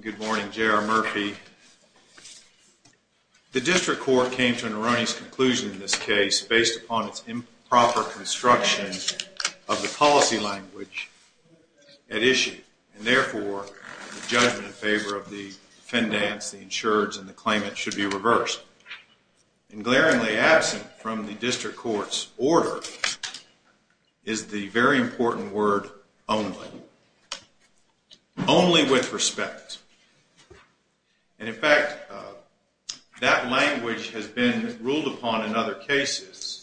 Good morning, J.R. Murphy. The district court came to an erroneous conclusion in this case based upon its improper construction of the policy language at issue, and therefore, the judgment in favor of the defendants, the insureds, and the claimant should be reversed. And glaringly absent from the district court's order is the very important word, only. Only with respect. And in fact, that language has been ruled upon in other cases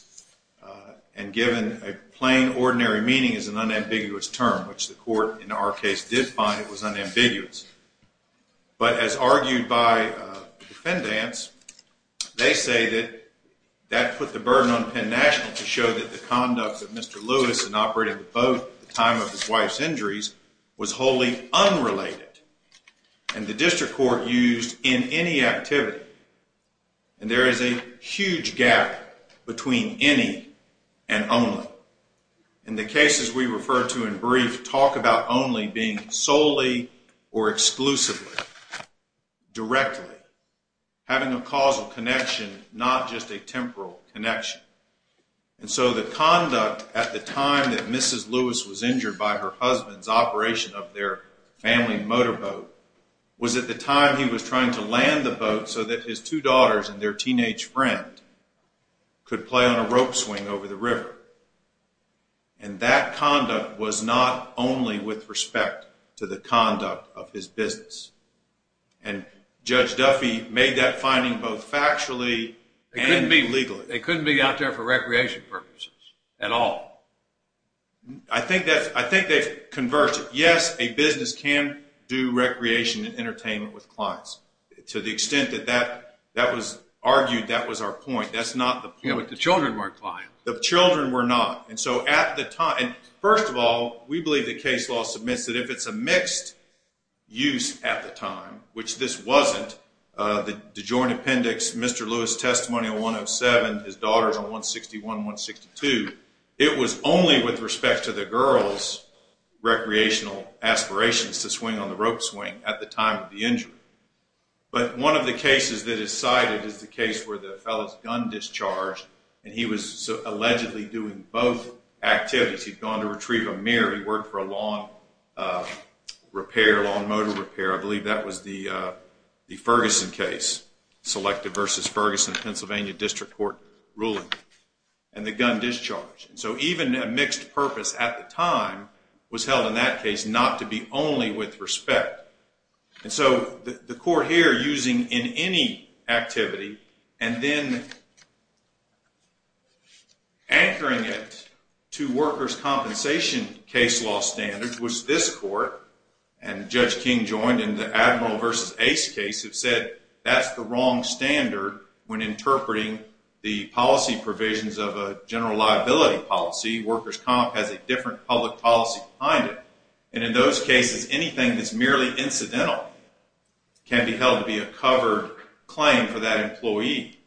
and given a plain, ordinary meaning is an unambiguous term, which the court in our case did find it was unambiguous. But as argued by defendants, they say that that put the burden on Penn National to show that the conduct of Mr. Lewis in operating the boat at the time of his wife's injuries was wholly unrelated. And the district court used in any activity. And there is a huge gap between any and only. And the cases we refer to in brief talk about only being solely or exclusively, directly, having a causal connection, not just a temporal connection. And so the conduct at the time that Mrs. Lewis was injured by her husband's operation of their family motorboat was at the time he was trying to land the boat so that his two daughters and their teenage friend could play on a rope swing over the river. And that conduct was not only with respect to the conduct of his business. And Judge Duffy made that finding both factually and legally. They couldn't be out there for recreation purposes at all. I think they've converged. Yes, a business can do recreation and entertainment with clients. To the extent that that was argued, that was our point. That's not the point. Yeah, but the children weren't clients. The children were not. And so at the time, first of all, we believe the case law submits that if it's a mixed use at the time, which this wasn't, the joint appendix, Mr. Lewis' testimony on 107, his daughters on 161 and 162, it was only with respect to the girls' recreational aspirations to swing on the rope swing at the time of the injury. But one of the cases that is cited is the case where the fellow's gun discharged and he was allegedly doing both activities. He'd gone to retrieve a mirror. He worked for a lawn repair, lawn motor repair. I believe that was the Ferguson case, Selective v. Ferguson, Pennsylvania District Court ruling. And the gun discharged. So even a mixed purpose at the time was held in that case not to be only with respect. And so the court here using in any activity and then anchoring it to workers' compensation case law standards, which this court and Judge King joined in the Admiral v. Ace case, have said that's the wrong standard when interpreting the policy provisions of a general liability policy. Workers' comp has a different public policy behind it. And in those cases, anything that's merely incidental can be held to be a covered claim for that employee.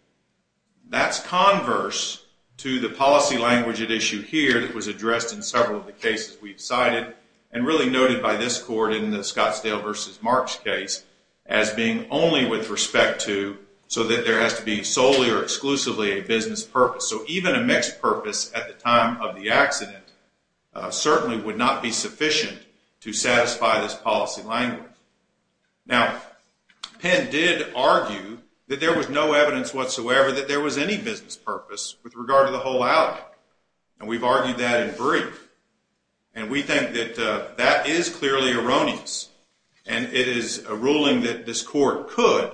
That's converse to the policy language at issue here that was addressed in several of the cases we've cited and really noted by this court in the Scottsdale v. Marks case as being only with respect to so that there has to be solely or exclusively a business purpose. So even a mixed purpose at the time of the accident certainly would not be sufficient to satisfy this policy language. Now, Penn did argue that there was no evidence whatsoever that there was any business purpose with regard to the whole alley. And we've argued that in brief. And we think that that is clearly erroneous. And it is a ruling that this court could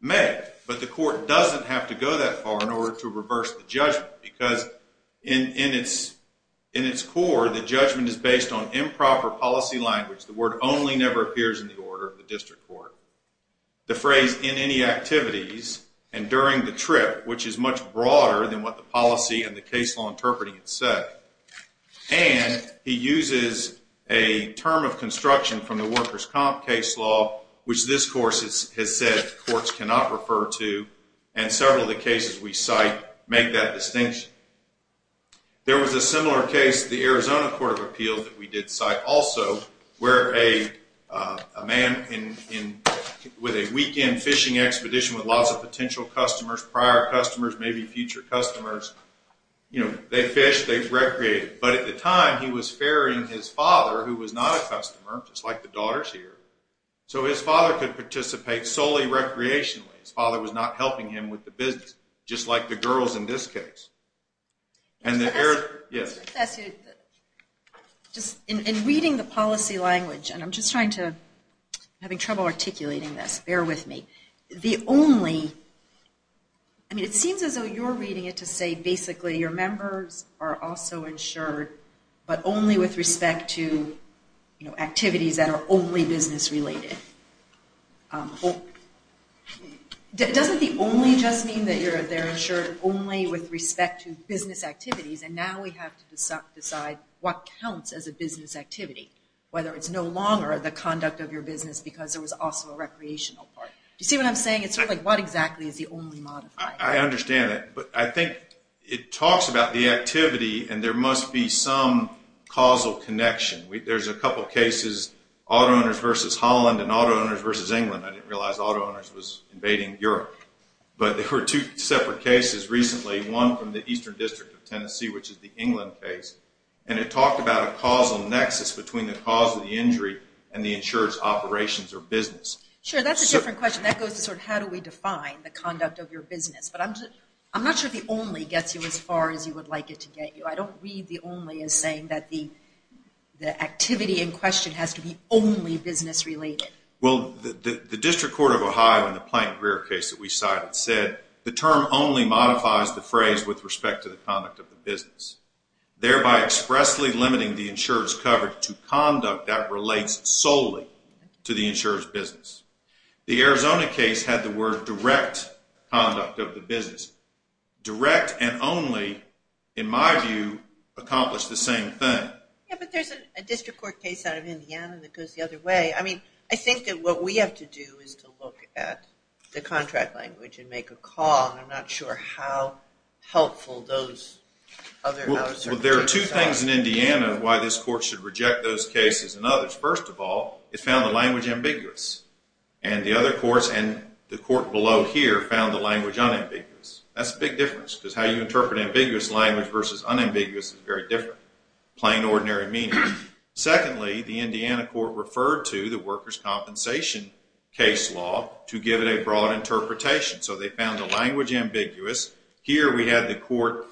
make. But the court doesn't have to go that far in order to reverse the judgment because in its core, the judgment is based on improper policy language. The word only never appears in the order of the district court. The phrase in any activities and during the trip, which is much broader than what the policy and the case law interpreting it said. And he uses a term of construction from the workers' comp case law, which this course has said courts cannot refer to. And several of the cases we cite make that distinction. There was a similar case in the Arizona Court of Appeals that we did cite also where a man with a weekend fishing expedition with lots of potential customers, prior customers, maybe future customers. They fished, they recreated. But at the time, he was ferrying his father, who was not a customer, just like the daughters here. So his father could participate solely recreationally. His father was not helping him with the business, just like the girls in this case. In reading the policy language, and I'm just having trouble articulating this, bear with me. The only, I mean it seems as though you're reading it to say basically your members are also insured, but only with respect to activities that are only business related. Doesn't the only just mean that they're insured only with respect to business activities and now we have to decide what counts as a business activity? Whether it's no longer the conduct of your business because there was also a recreational part. Do you see what I'm saying? It's sort of like what exactly is the only modifier? I understand that, but I think it talks about the activity and there must be some causal connection. There's a couple cases, auto owners versus Holland and auto owners versus England. I didn't realize auto owners was invading Europe. But there were two separate cases recently, one from the Eastern District of Tennessee, which is the England case. And it talked about a causal nexus between the cause of the injury and the insured's operations or business. Sure, that's a different question. That goes to sort of how do we define the conduct of your business. But I'm not sure the only gets you as far as you would like it to get you. I don't read the only as saying that the activity in question has to be only business related. Well, the District Court of Ohio in the Plank-Greer case that we cited said the term only modifies the phrase with respect to the conduct of the business. Thereby expressly limiting the insured's coverage to conduct that relates solely to the insured's business. The Arizona case had the word direct conduct of the business. Direct and only, in my view, accomplish the same thing. Yeah, but there's a District Court case out of Indiana that goes the other way. I mean, I think that what we have to do is to look at the contract language and make a call. I'm not sure how helpful those other houses are. Well, there are two things in Indiana why this court should reject those cases and others. First of all, it found the language ambiguous. And the other courts and the court below here found the language unambiguous. That's a big difference because how you interpret ambiguous language versus unambiguous is very different. Plain, ordinary meaning. Secondly, the Indiana court referred to the workers' compensation case law to give it a broad interpretation. So they found the language ambiguous. Here we have the court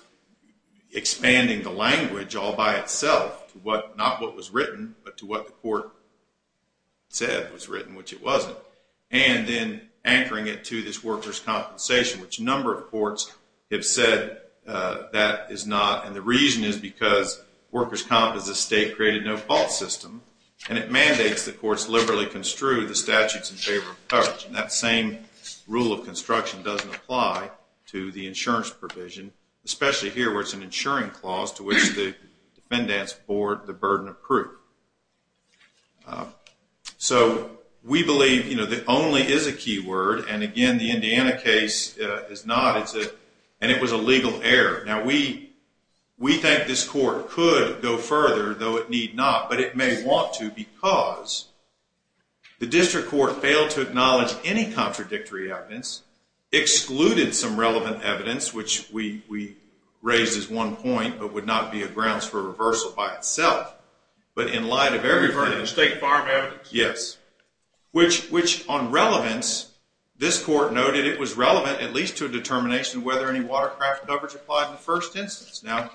expanding the language all by itself, not what was written, but to what the court said was written, which it wasn't. And then anchoring it to this workers' compensation, which a number of courts have said that is not. And the reason is because workers' comp is a state-created, no-fault system, and it mandates that courts liberally construe the statutes in favor of coverage. And that same rule of construction doesn't apply to the insurance provision, especially here where it's an insuring clause to which the defendants board the burden of proof. So we believe that only is a key word. And again, the Indiana case is not. And it was a legal error. Now, we think this court could go further, though it need not. But it may want to because the district court failed to acknowledge any contradictory evidence, excluded some relevant evidence, which we raised as one point, but would not be a grounds for reversal by itself. But in light of everything else. State farm evidence. Yes. Which on relevance, this court noted it was relevant, at least to a determination, whether any watercraft coverage applied in the first instance. Now,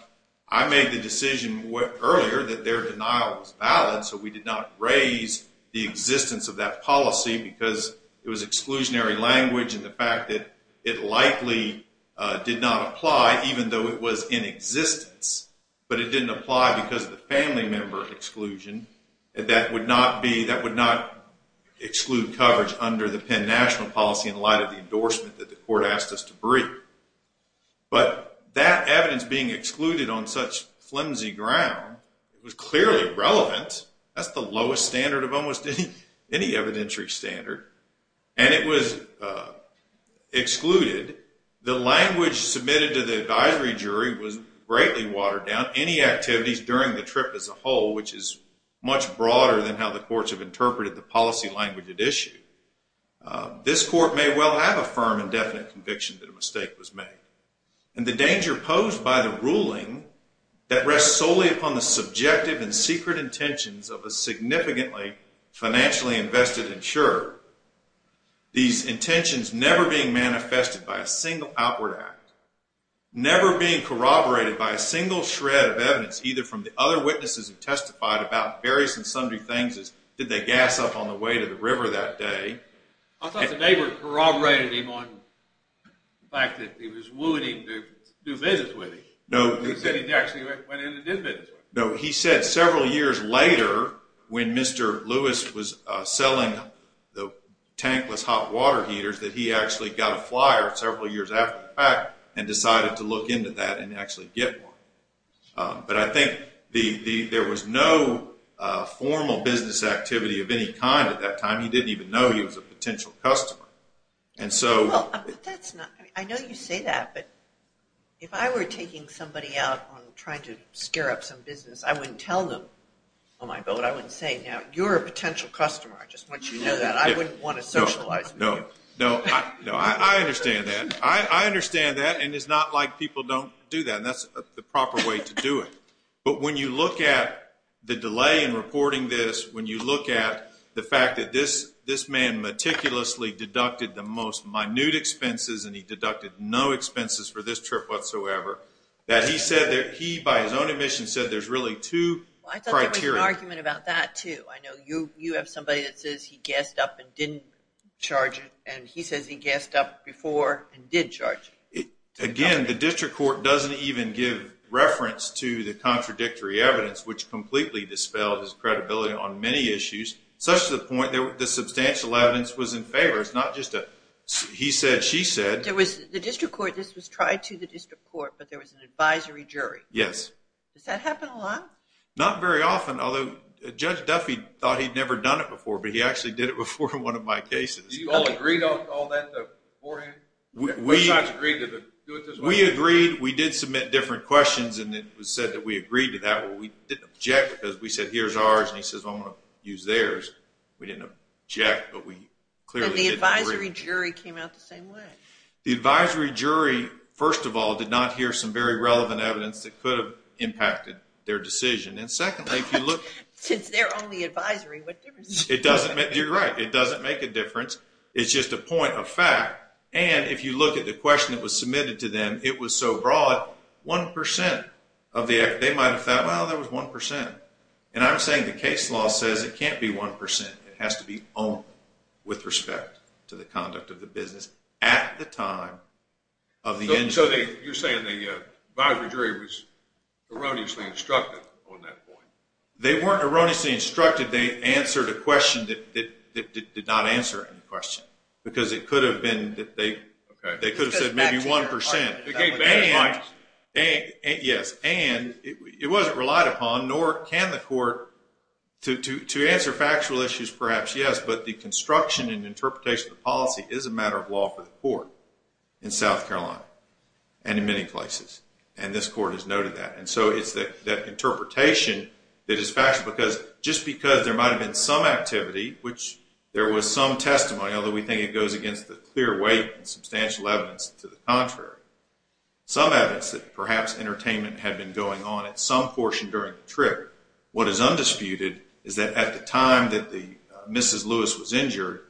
I made the decision earlier that their denial was valid, so we did not raise the existence of that policy because it was exclusionary language and the fact that it likely did not apply even though it was in existence. But it didn't apply because of the family member exclusion. That would not exclude coverage under the Penn national policy in light of the endorsement that the court asked us to bring. But that evidence being excluded on such flimsy ground was clearly relevant. That's the lowest standard of almost any evidentiary standard. And it was excluded. The language submitted to the advisory jury was greatly watered down. During the trip as a whole, which is much broader than how the courts have interpreted the policy language at issue. This court may well have a firm and definite conviction that a mistake was made. And the danger posed by the ruling that rests solely upon the subjective and secret intentions of a significantly financially invested insurer. These intentions never being manifested by a single outward act. Never being corroborated by a single shred of evidence either from the other witnesses who testified about various and sundry things as did they gas up on the way to the river that day. I thought the neighbor corroborated him on the fact that he was wooing him to do business with him. No. He said he actually went in and did business with him. No, he said several years later when Mr. Lewis was selling the tankless hot water heaters that he actually got a flyer several years after the fact and decided to look into that and actually get one. But I think there was no formal business activity of any kind at that time. He didn't even know he was a potential customer. I know you say that, but if I were taking somebody out on trying to scare up some business, I wouldn't tell them on my boat. I wouldn't say, you're a potential customer. I just want you to know that. I wouldn't want to socialize with you. No, I understand that. I understand that, and it's not like people don't do that, and that's the proper way to do it. But when you look at the delay in reporting this, when you look at the fact that this man meticulously deducted the most minute expenses and he deducted no expenses for this trip whatsoever, that he said that he, by his own admission, said there's really two criteria. I thought there was an argument about that too. I know you have somebody that says he gassed up and didn't charge it, and he says he gassed up before and did charge it. Again, the district court doesn't even give reference to the contradictory evidence, which completely dispelled his credibility on many issues, such to the point that the substantial evidence was in favor. It's not just a he said, she said. The district court, this was tried to the district court, but there was an advisory jury. Yes. Does that happen a lot? Not very often, although Judge Duffy thought he'd never done it before, but he actually did it before in one of my cases. Did you all agree on all that beforehand? What sides agreed to do it this way? We agreed. We did submit different questions, and it was said that we agreed to that. We didn't object because we said, here's ours, and he says, well, I'm going to use theirs. We didn't object, but we clearly didn't agree. But the advisory jury came out the same way. And secondly, if you look. Since they're on the advisory, what difference does it make? You're right. It doesn't make a difference. It's just a point of fact, and if you look at the question that was submitted to them, it was so broad, 1% of the, they might have thought, well, there was 1%. And I'm saying the case law says it can't be 1%. It has to be only with respect to the conduct of the business at the time of the incident. And so you're saying the advisory jury was erroneously instructed on that point? They weren't erroneously instructed. They answered a question that did not answer any question. Because it could have been that they could have said maybe 1%. They gave bad advice. Yes. And it wasn't relied upon, nor can the court. To answer factual issues, perhaps, yes. But the construction and interpretation of the policy is a matter of law for the court in South Carolina. And in many places. And this court has noted that. And so it's that interpretation that is factual. Because just because there might have been some activity, which there was some testimony, although we think it goes against the clear weight and substantial evidence to the contrary. Some evidence that perhaps entertainment had been going on at some portion during the trip. What is undisputed is that at the time that Mrs. Lewis was injured,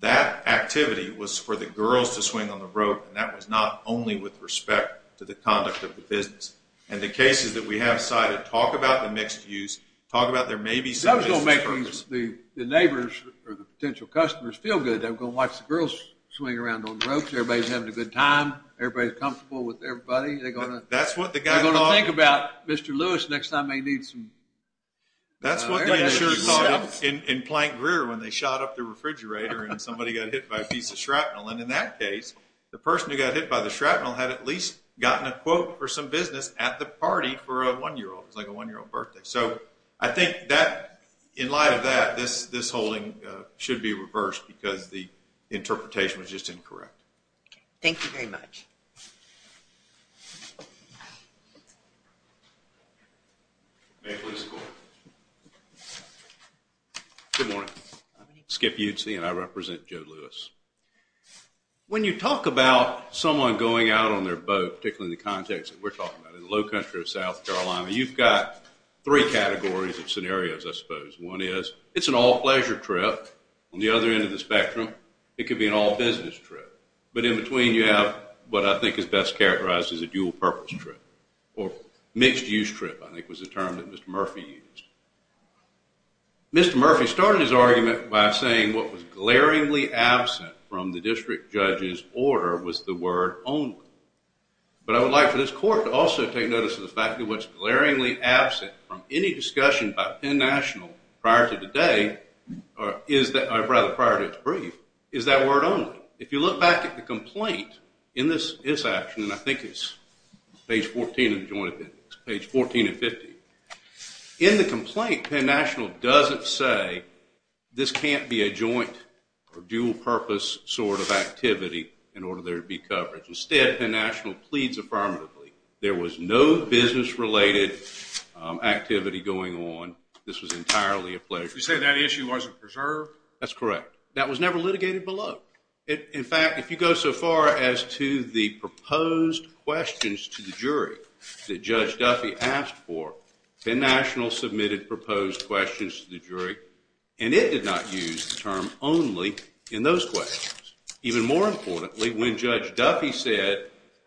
that activity was for the girls to swing on the rope. And that was not only with respect to the conduct of the business. And the cases that we have cited talk about the mixed use, talk about there may be some business purpose. That was going to make the neighbors or the potential customers feel good. They were going to watch the girls swing around on the ropes. Everybody's having a good time. Everybody's comfortable with everybody. They're going to think about Mr. Lewis next time they need some air. That's what the insurers thought in Plank Greer when they shot up the refrigerator and somebody got hit by a piece of shrapnel. And in that case, the person who got hit by the shrapnel had at least gotten a quote for some business at the party for a one-year-old. It was like a one-year-old birthday. So I think that in light of that, this holding should be reversed because the interpretation was just incorrect. Thank you very much. Good morning. I'm Skip Udsey, and I represent Joe Lewis. When you talk about someone going out on their boat, particularly in the context that we're talking about, in the low country of South Carolina, you've got three categories of scenarios, I suppose. One is it's an all-pleasure trip. On the other end of the spectrum, it could be an all-business trip. But in between, you have what I think is best characterized as a dual-purpose trip or mixed-use trip, I think was the term that Mr. Murphy used. Mr. Murphy started his argument by saying what was glaringly absent from the district judge's order was the word only. But I would like for this court to also take notice of the fact that what's glaringly absent from any discussion by Penn National prior to today, or rather prior to its brief, is that word only. If you look back at the complaint in this action, and I think it's page 14 and 15, in the complaint, Penn National doesn't say this can't be a joint or dual-purpose sort of activity in order there to be coverage. Instead, Penn National pleads affirmatively. There was no business-related activity going on. This was entirely a pleasure. You say that issue wasn't preserved? That's correct. That was never litigated below. In fact, if you go so far as to the proposed questions to the jury that Judge Duffy asked for, Penn National submitted proposed questions to the jury, and it did not use the term only in those questions. Even more importantly, when Judge Duffy said,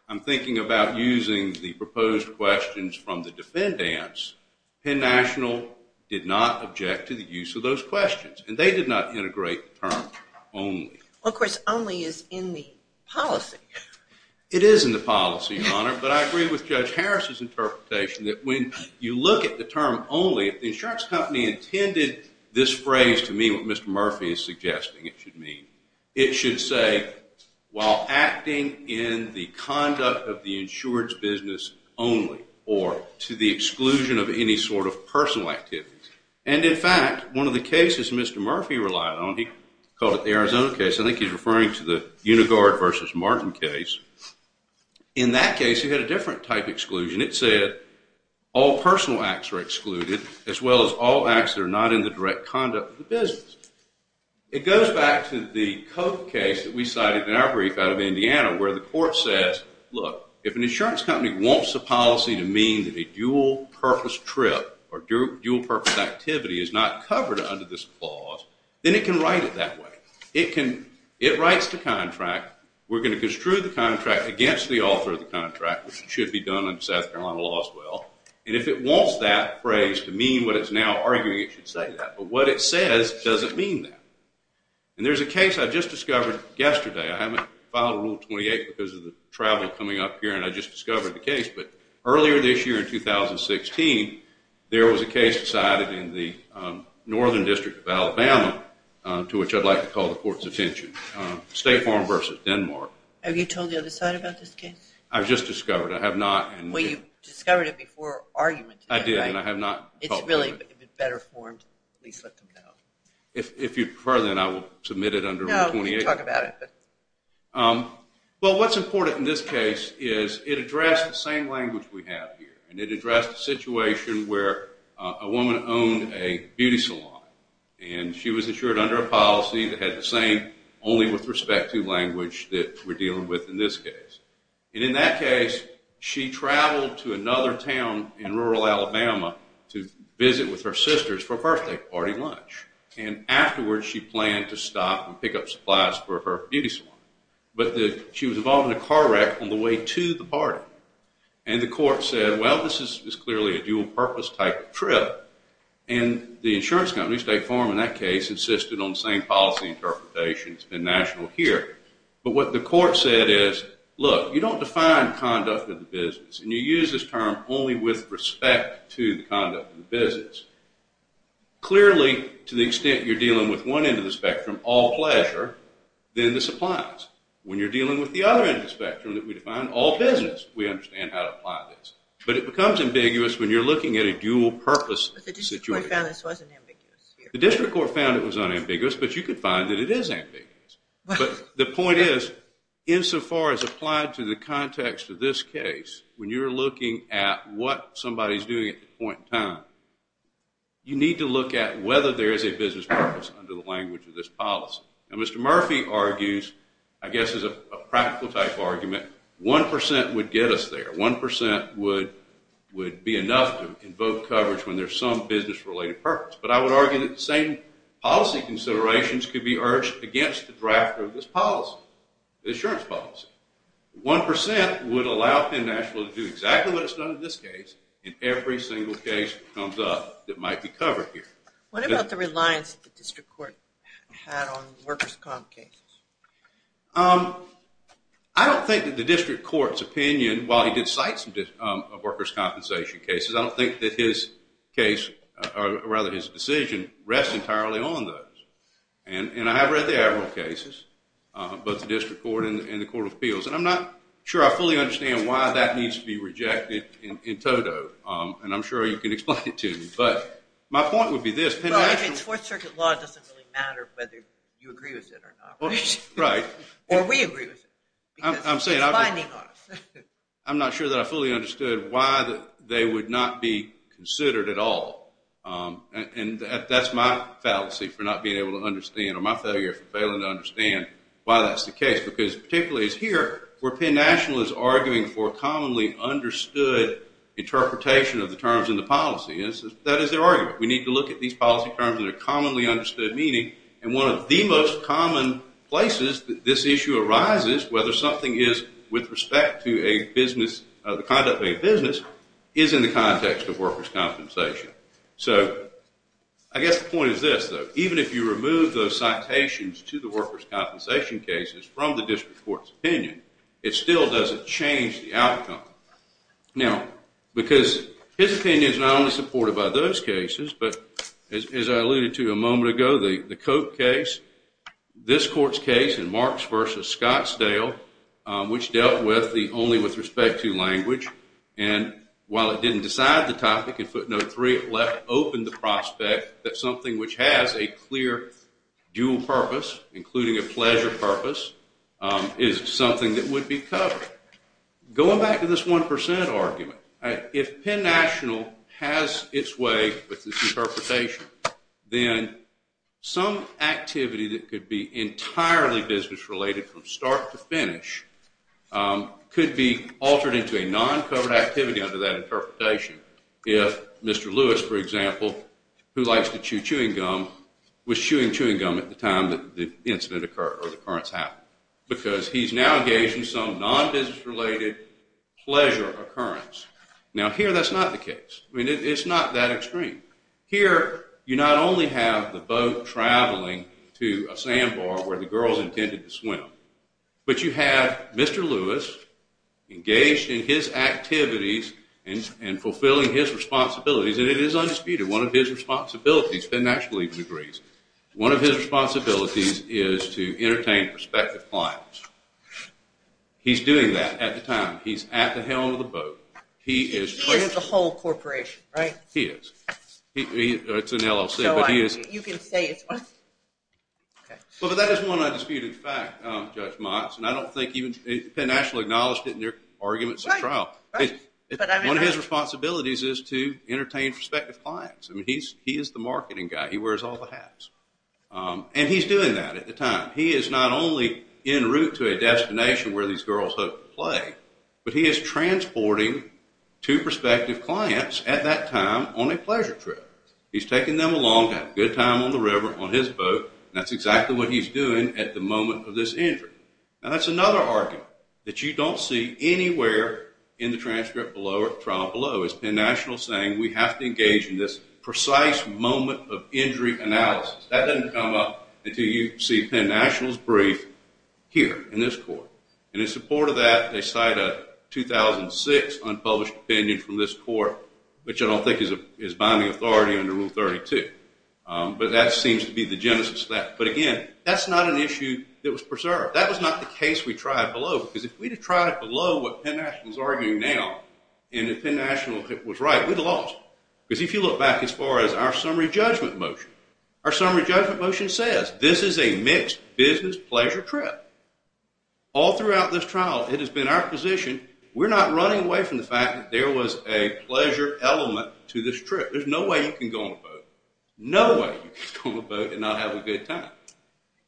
I'm thinking about using the proposed questions from the defendants, Penn National did not object to the use of those questions, and they did not integrate the term only. Of course, only is in the policy. It is in the policy, Your Honor, but I agree with Judge Harris's interpretation that when you look at the term only, if the insurance company intended this phrase to mean what Mr. Murphy is suggesting it should mean, it should say, while acting in the conduct of the insurance business only, or to the exclusion of any sort of personal activity. And in fact, one of the cases Mr. Murphy relied on, he called it the Arizona case. I think he's referring to the Uniguard versus Martin case. In that case, he had a different type of exclusion. It said all personal acts are excluded as well as all acts that are not in the direct conduct of the business. It goes back to the Coke case that we cited in our brief out of Indiana, where the court says, look, if an insurance company wants a policy to mean that a dual-purpose trip or dual-purpose activity is not covered under this clause, then it can write it that way. It writes the contract. We're going to construe the contract against the author of the contract, which should be done under South Carolina law as well. And if it wants that phrase to mean what it's now arguing it should say, but what it says doesn't mean that. And there's a case I just discovered yesterday. I haven't filed Rule 28 because of the travel coming up here, and I just discovered the case. But earlier this year in 2016, there was a case decided in the northern district of Alabama, to which I'd like to call the court's attention, State Farm versus Denmark. Have you told the other side about this case? I've just discovered. I have not. Well, you discovered it before argument. I did, and I have not called it. It's really better formed, at least let them know. If you prefer, then I will submit it under Rule 28. No, we can talk about it. Well, what's important in this case is it addressed the same language we have here, and it addressed a situation where a woman owned a beauty salon, and she was insured under a policy that had the same only with respect to language that we're dealing with in this case. And in that case, she traveled to another town in rural Alabama to visit with her sisters for a birthday party lunch. And afterwards, she planned to stop and pick up supplies for her beauty salon. But she was involved in a car wreck on the way to the party. And the court said, well, this is clearly a dual-purpose type of trip. And the insurance company, State Farm in that case, insisted on the same policy interpretations in national here. But what the court said is, look, you don't define conduct of the business, and you use this term only with respect to the conduct of the business. Clearly, to the extent you're dealing with one end of the spectrum, all pleasure, then this applies. When you're dealing with the other end of the spectrum that we define, all business, we understand how to apply this. But it becomes ambiguous when you're looking at a dual-purpose situation. But the district court found this wasn't ambiguous here. The district court found it was unambiguous, but you could find that it is ambiguous. But the point is, insofar as applied to the context of this case, when you're looking at what somebody's doing at the point in time, you need to look at whether there is a business purpose under the language of this policy. And Mr. Murphy argues, I guess as a practical type argument, 1% would get us there. 1% would be enough to invoke coverage when there's some business-related purpose. But I would argue that the same policy considerations could be urged against the draft of this policy, the insurance policy. 1% would allow Penn National to do exactly what it's done in this case in every single case that comes up that might be covered here. What about the reliance that the district court had on workers' comp cases? I don't think that the district court's opinion, while he did cite some workers' compensation cases, I don't think that his case, or rather his decision, rests entirely on those. And I have read the Averell cases, both the district court and the Court of Appeals, and I'm not sure I fully understand why that needs to be rejected in toto. And I'm sure you can explain it to me. But my point would be this. Well, if it's Fourth Circuit law, it doesn't really matter whether you agree with it or not, right? Right. Or we agree with it. I'm not sure that I fully understood why they would not be considered at all. And that's my fallacy for not being able to understand, or my failure for failing to understand why that's the case, because particularly it's here where Penn National is arguing for a commonly understood interpretation of the terms in the policy. That is their argument. We need to look at these policy terms and their commonly understood meaning. And one of the most common places that this issue arises, whether something is with respect to the conduct of a business, is in the context of workers' compensation. So I guess the point is this, though. Even if you remove those citations to the workers' compensation cases from the district court's opinion, it still doesn't change the outcome. Now, because his opinion is not only supported by those cases, but as I alluded to a moment ago, the Koch case, this court's case in Marx versus Scottsdale, which dealt with the only with respect to language, and while it didn't decide the topic, in footnote three it left open the prospect that something which has a clear dual purpose, including a pleasure purpose, is something that would be covered. Going back to this 1% argument, if Penn National has its way with this interpretation, then some activity that could be entirely business-related from start to finish could be altered into a non-covered activity under that interpretation. If Mr. Lewis, for example, who likes to chew chewing gum, was chewing chewing gum at the time that the incident occurred or the occurrence happened, because he's now engaged in some non-business-related pleasure occurrence. Now, here that's not the case. I mean, it's not that extreme. Here, you not only have the boat traveling to a sandbar where the girls intended to swim, but you have Mr. Lewis engaged in his activities and fulfilling his responsibilities, and it is undisputed, one of his responsibilities, Penn National even agrees, one of his responsibilities is to entertain prospective clients. He's at the helm of the boat. He is. He is the whole corporation, right? He is. It's an LLC, but he is. You can say it. Well, that is one undisputed fact, Judge Motz, and I don't think even Penn National acknowledged it in their arguments at trial. One of his responsibilities is to entertain prospective clients. I mean, he is the marketing guy. He wears all the hats. And he's doing that at the time. He is not only en route to a destination where these girls hope to play, but he is transporting two prospective clients at that time on a pleasure trip. He's taking them along to have a good time on the river, on his boat, and that's exactly what he's doing at the moment of this injury. Now, that's another argument that you don't see anywhere in the transcript below or the trial below is Penn National saying we have to engage in this precise moment of injury analysis. That doesn't come up until you see Penn National's brief here in this court. And in support of that, they cite a 2006 unpublished opinion from this court, which I don't think is binding authority under Rule 32. But that seems to be the genesis of that. But again, that's not an issue that was preserved. That was not the case we tried below. Because if we had tried below what Penn National is arguing now, and if Penn National was right, we'd have lost. Because if you look back as far as our summary judgment motion, our summary judgment motion says this is a mixed business pleasure trip. All throughout this trial, it has been our position, we're not running away from the fact that there was a pleasure element to this trip. There's no way you can go on a boat. No way you can go on a boat and not have a good time.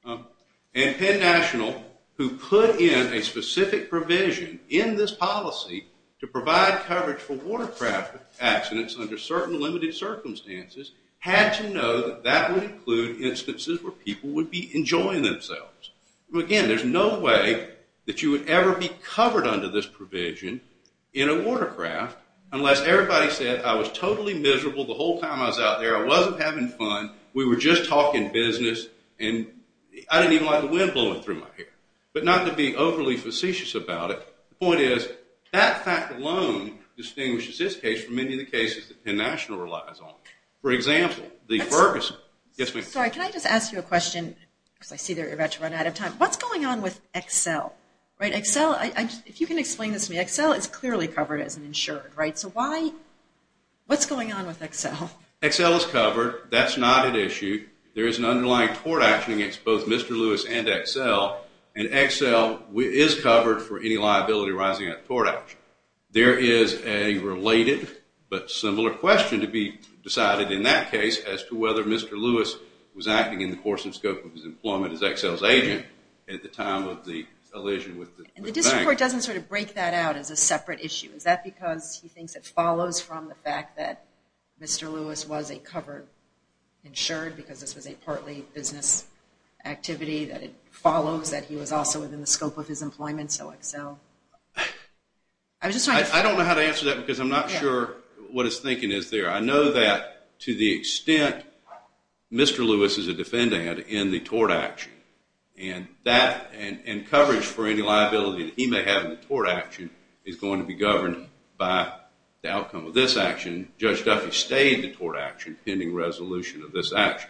And Penn National, who put in a specific provision in this policy to provide coverage for watercraft accidents under certain limited circumstances, had to know that that would include instances where people would be enjoying themselves. Again, there's no way that you would ever be covered under this provision in a watercraft unless everybody said, I was totally miserable the whole time I was out there, I wasn't having fun, we were just talking business, and I didn't even like the wind blowing through my hair. But not to be overly facetious about it, the point is, that fact alone distinguishes this case from many of the cases that Penn National relies on. For example, the Ferguson. Sorry, can I just ask you a question? Because I see they're about to run out of time. What's going on with Excel? If you can explain this to me, Excel is clearly covered as insured, right? So what's going on with Excel? Excel is covered. That's not an issue. There is an underlying tort action against both Mr. Lewis and Excel, and Excel is covered for any liability arising out of a tort action. There is a related but similar question to be decided in that case as to whether Mr. Lewis was acting in the course and scope of his employment as Excel's agent at the time of the elision with the bank. And the district court doesn't sort of break that out as a separate issue. Is that because he thinks it follows from the fact that Mr. Lewis was a covered insured because this was a partly business activity, that it follows that he was also within the scope of his employment, so Excel? I don't know how to answer that because I'm not sure what his thinking is there. I know that to the extent Mr. Lewis is a defendant in the tort action, and coverage for any liability that he may have in the tort action is going to be governed by the outcome of this action. Judge Duffy stayed in the tort action pending resolution of this action.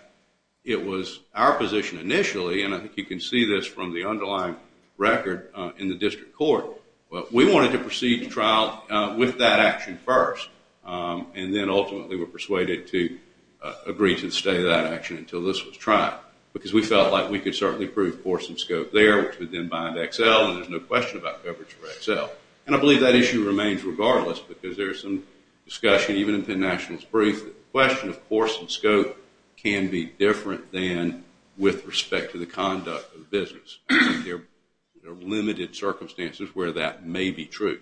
It was our position initially, and I think you can see this from the underlying record in the district court, but we wanted to proceed the trial with that action first and then ultimately were persuaded to agree to stay that action until this was tried because we felt like we could certainly prove course and scope there, which would then bind Excel, and there's no question about coverage for Excel. And I believe that issue remains regardless because there's some discussion, even in Penn National's brief, that the question of course and scope can be different than with respect to the conduct of the business. There are limited circumstances where that may be true.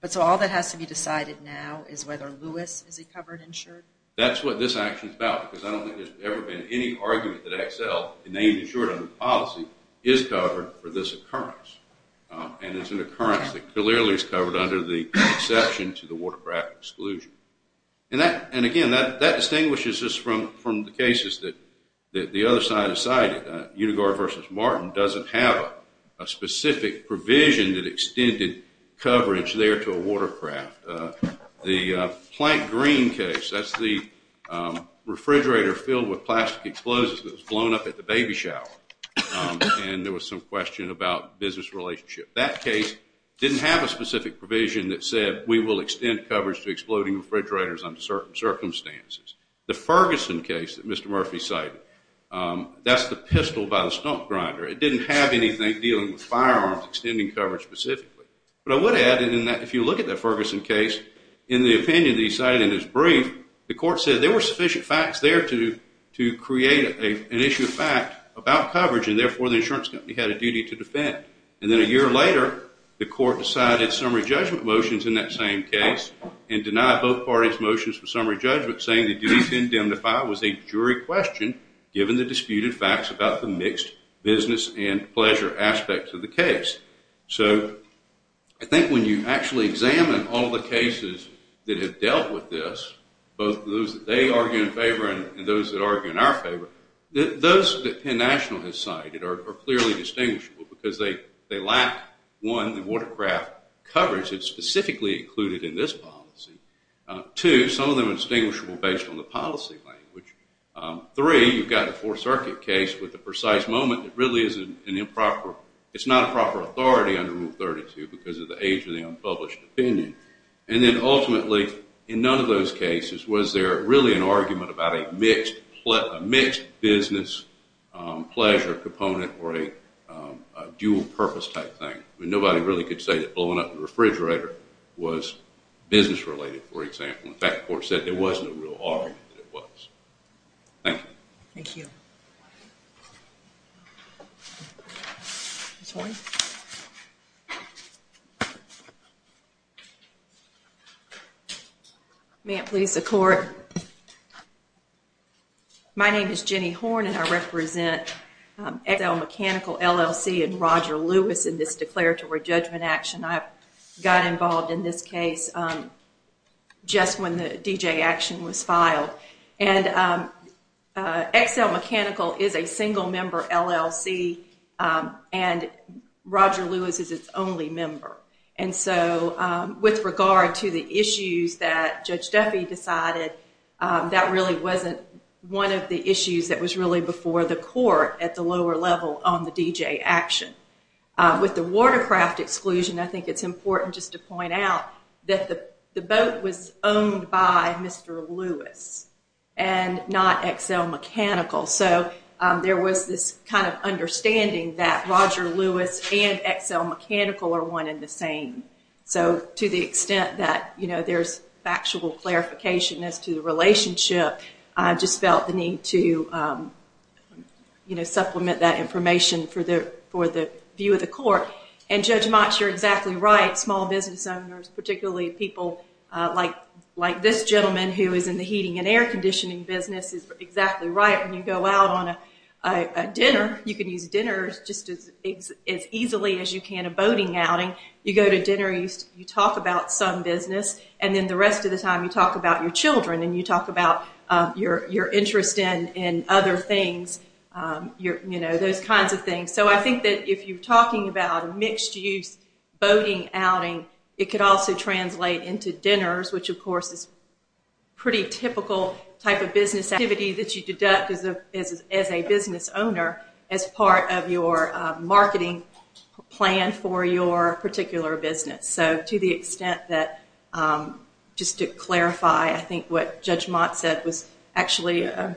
But so all that has to be decided now is whether Lewis is a covered insured? That's what this action is about because I don't think there's ever been any argument that Excel, named insured under policy, is covered for this occurrence. And it's an occurrence that clearly is covered under the exception to the watercraft exclusion. And again, that distinguishes us from the cases that the other side has cited. Unigard v. Martin doesn't have a specific provision that extended coverage there to a watercraft. The Plank Green case, that's the refrigerator filled with plastic explosives that was blown up at the baby shower, and there was some question about business relationship. That case didn't have a specific provision that said we will extend coverage to exploding refrigerators under certain circumstances. The Ferguson case that Mr. Murphy cited, that's the pistol by the stump grinder. It didn't have anything dealing with firearms extending coverage specifically. But I would add in that if you look at that Ferguson case, in the opinion that he cited in his brief, the court said there were sufficient facts there to create an issue of fact about coverage and therefore the insurance company had a duty to defend. And then a year later, the court decided summary judgment motions in that same case and denied both parties motions for summary judgment saying the duty to indemnify was a jury question given the disputed facts about the mixed business and pleasure aspects of the case. So I think when you actually examine all the cases that have dealt with this, both those that they argue in favor and those that argue in our favor, those that Penn National has cited are clearly distinguishable because they lack, one, the watercraft coverage that's specifically included in this policy. Two, some of them are distinguishable based on the policy language. Three, you've got the Fourth Circuit case with the precise moment that really is an improper, it's not a proper authority under Rule 32 because of the age of the unpublished opinion. And then ultimately in none of those cases was there really an argument about a mixed business pleasure component or a dual purpose type thing. Nobody really could say that blowing up the refrigerator was business related, for example. In fact, the court said there was no real argument that it was. Thank you. Thank you. May it please the court. My name is Jenny Horne and I represent XL Mechanical LLC and Roger Lewis in this declaratory judgment action. I got involved in this case just when the D.J. action was filed. And XL Mechanical is a single member LLC and Roger Lewis is its only member. And so with regard to the issues that Judge Duffy decided, that really wasn't one of the issues that was really before the court at the lower level on the D.J. action. With the watercraft exclusion, I think it's important just to point out that the boat was owned by Mr. Lewis and not XL Mechanical. So there was this kind of understanding that Roger Lewis and XL Mechanical are one and the same. So to the extent that there's factual clarification as to the relationship, I just felt the need to supplement that information for the view of the court. And Judge Mott, you're exactly right. Small business owners, particularly people like this gentleman who is in the heating and air conditioning business, is exactly right. When you go out on a dinner, you can use dinners just as easily as you can a boating outing. You go to dinner, you talk about some business, and then the rest of the time you talk about your children and you talk about your interest in other things, you know, those kinds of things. So I think that if you're talking about a mixed-use boating outing, it could also translate into dinners, which of course is a pretty typical type of business activity that you deduct as a business owner as part of your marketing plan for your particular business. So to the extent that just to clarify, I think what Judge Mott said was actually a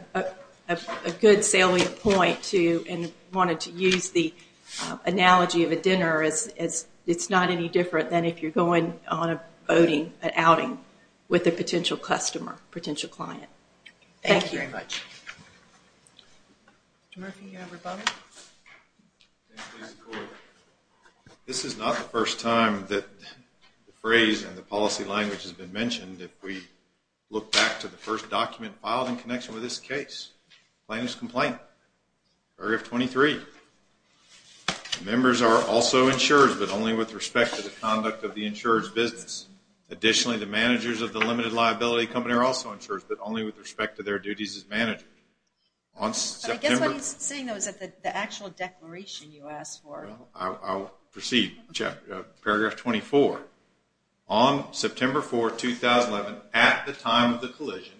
good salient point and wanted to use the analogy of a dinner as it's not any different than if you're going on a boating, an outing with a potential customer, potential client. Thank you very much. Mr. Murphy, do you have a rebuttal? This is not the first time that the phrase and the policy language has been mentioned. If we look back to the first document filed in connection with this case, plaintiff's complaint, paragraph 23, members are also insurers but only with respect to the conduct of the insured's business. Additionally, the managers of the limited liability company are also insurers but only with respect to their duties as managers. I guess what he's saying though is that the actual declaration you asked for. I'll proceed, paragraph 24. On September 4, 2011, at the time of the collision,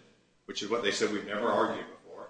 which is what they said we've never argued before,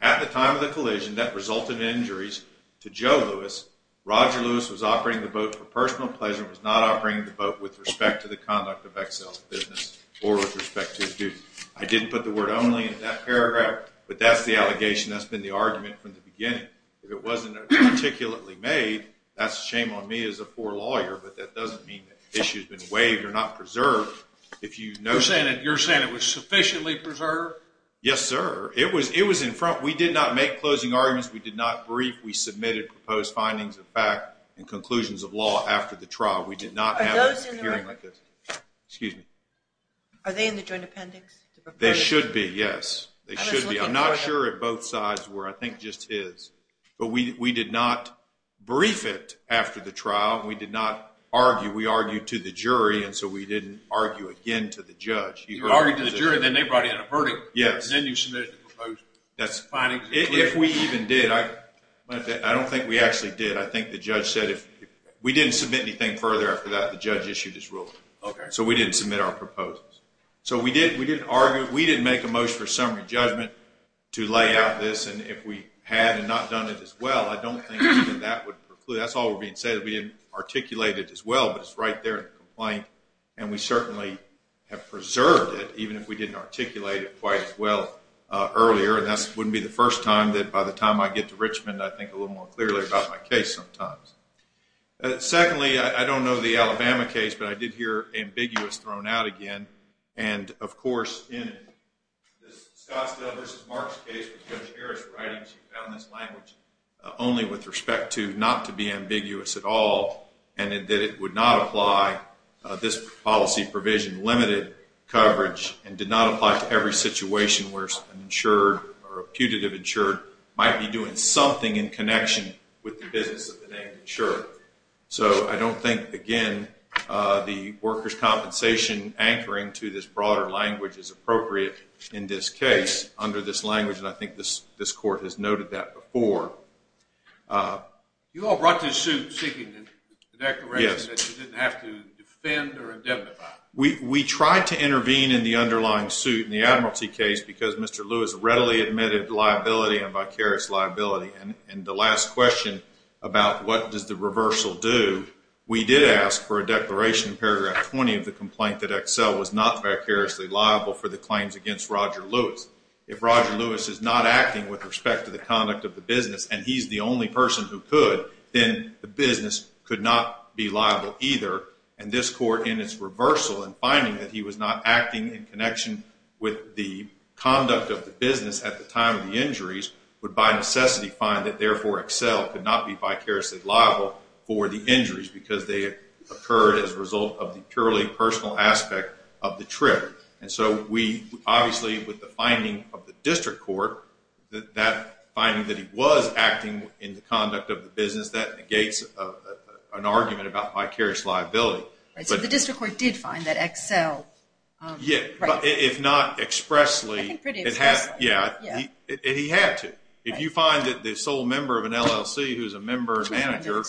at the time of the collision that resulted in injuries to Joe Lewis, Roger Lewis was operating the boat for personal pleasure and was not operating the boat with respect to the conduct of Excel's business or with respect to his duties. I didn't put the word only in that paragraph, but that's the allegation. That's been the argument from the beginning. If it wasn't articulately made, that's a shame on me as a poor lawyer, but that doesn't mean the issue's been waived or not preserved. You're saying it was sufficiently preserved? Yes, sir. It was in front. We did not make closing arguments. We did not brief. We submitted proposed findings of fact and conclusions of law after the trial. We did not have a hearing like this. Are they in the joint appendix? They should be, yes. They should be. I'm not sure if both sides were. I think just his. But we did not brief it after the trial, and we did not argue. We argued to the jury, and so we didn't argue again to the judge. You argued to the jury, and then they brought in a verdict. Yes. And then you submitted the proposal. If we even did, I don't think we actually did. I think the judge said if we didn't submit anything further after that, the judge issued his ruling. So we didn't submit our proposals. So we didn't make a motion for summary judgment to lay out this, and if we had and not done it as well, I don't think that that would preclude it. That's all we're being said. We didn't articulate it as well, but it's right there in the complaint, and we certainly have preserved it, even if we didn't articulate it quite as well earlier, and that wouldn't be the first time that by the time I get to Richmond, I think a little more clearly about my case sometimes. Secondly, I don't know the Alabama case, but I did hear ambiguous thrown out again, and, of course, in this Scottsdale v. Marks case with Judge Harris writing, she found this language only with respect to not to be ambiguous at all and that it would not apply this policy provision, limited coverage, and did not apply to every situation where an insured or a putative insured might be doing something in connection with the business of the name insured. So I don't think, again, the workers' compensation anchoring to this broader language is appropriate in this case under this language, and I think this Court has noted that before. You all brought this suit seeking the declaration that you didn't have to defend or indemnify. We tried to intervene in the underlying suit in the Admiralty case because Mr. Lewis readily admitted liability and vicarious liability, and the last question about what does the reversal do, we did ask for a declaration in paragraph 20 of the complaint that Excel was not vicariously liable for the claims against Roger Lewis. If Roger Lewis is not acting with respect to the conduct of the business and he's the only person who could, then the business could not be liable either, and this Court in its reversal and finding that he was not acting in connection with the conduct of the business at the time of the injuries would by necessity find that therefore Excel could not be vicariously liable for the injuries because they occurred as a result of the purely personal aspect of the trip. And so we obviously, with the finding of the District Court, that finding that he was acting in the conduct of the business, that negates an argument about vicarious liability. So the District Court did find that Excel... Yeah, but if not expressly... I think pretty expressly. Yeah, he had to. If you find that the sole member of an LLC who's a member and manager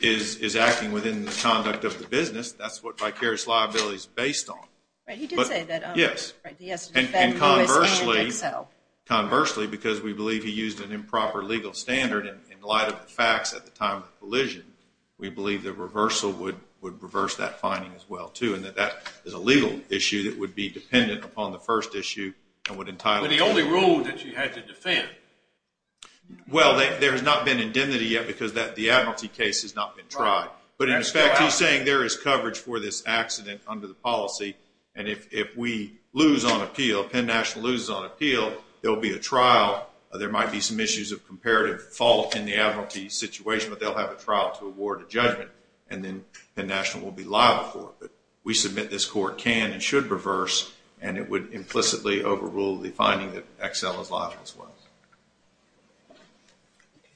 is acting within the conduct of the business, that's what vicarious liability is based on. Right, he did say that... Yes. He has to defend Lewis and Excel. And conversely, because we believe he used an improper legal standard in light of the facts at the time of the collision, we believe the reversal would reverse that finding as well too, and that that is a legal issue that would be dependent upon the first issue. But the only rule that you had to defend... Well, there has not been indemnity yet because the Admiralty case has not been tried. But in effect, he's saying there is coverage for this accident under the policy, and if we lose on appeal, Penn National loses on appeal, there will be a trial. There might be some issues of comparative fault in the Admiralty situation, but they'll have a trial to award a judgment, and then Penn National will be liable for it. But we submit this court can and should reverse, and it would implicitly overrule the finding that Excel is liable as well.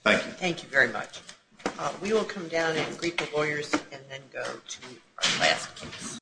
Thank you. Thank you very much. We will come down and greet the lawyers and then go to our last case.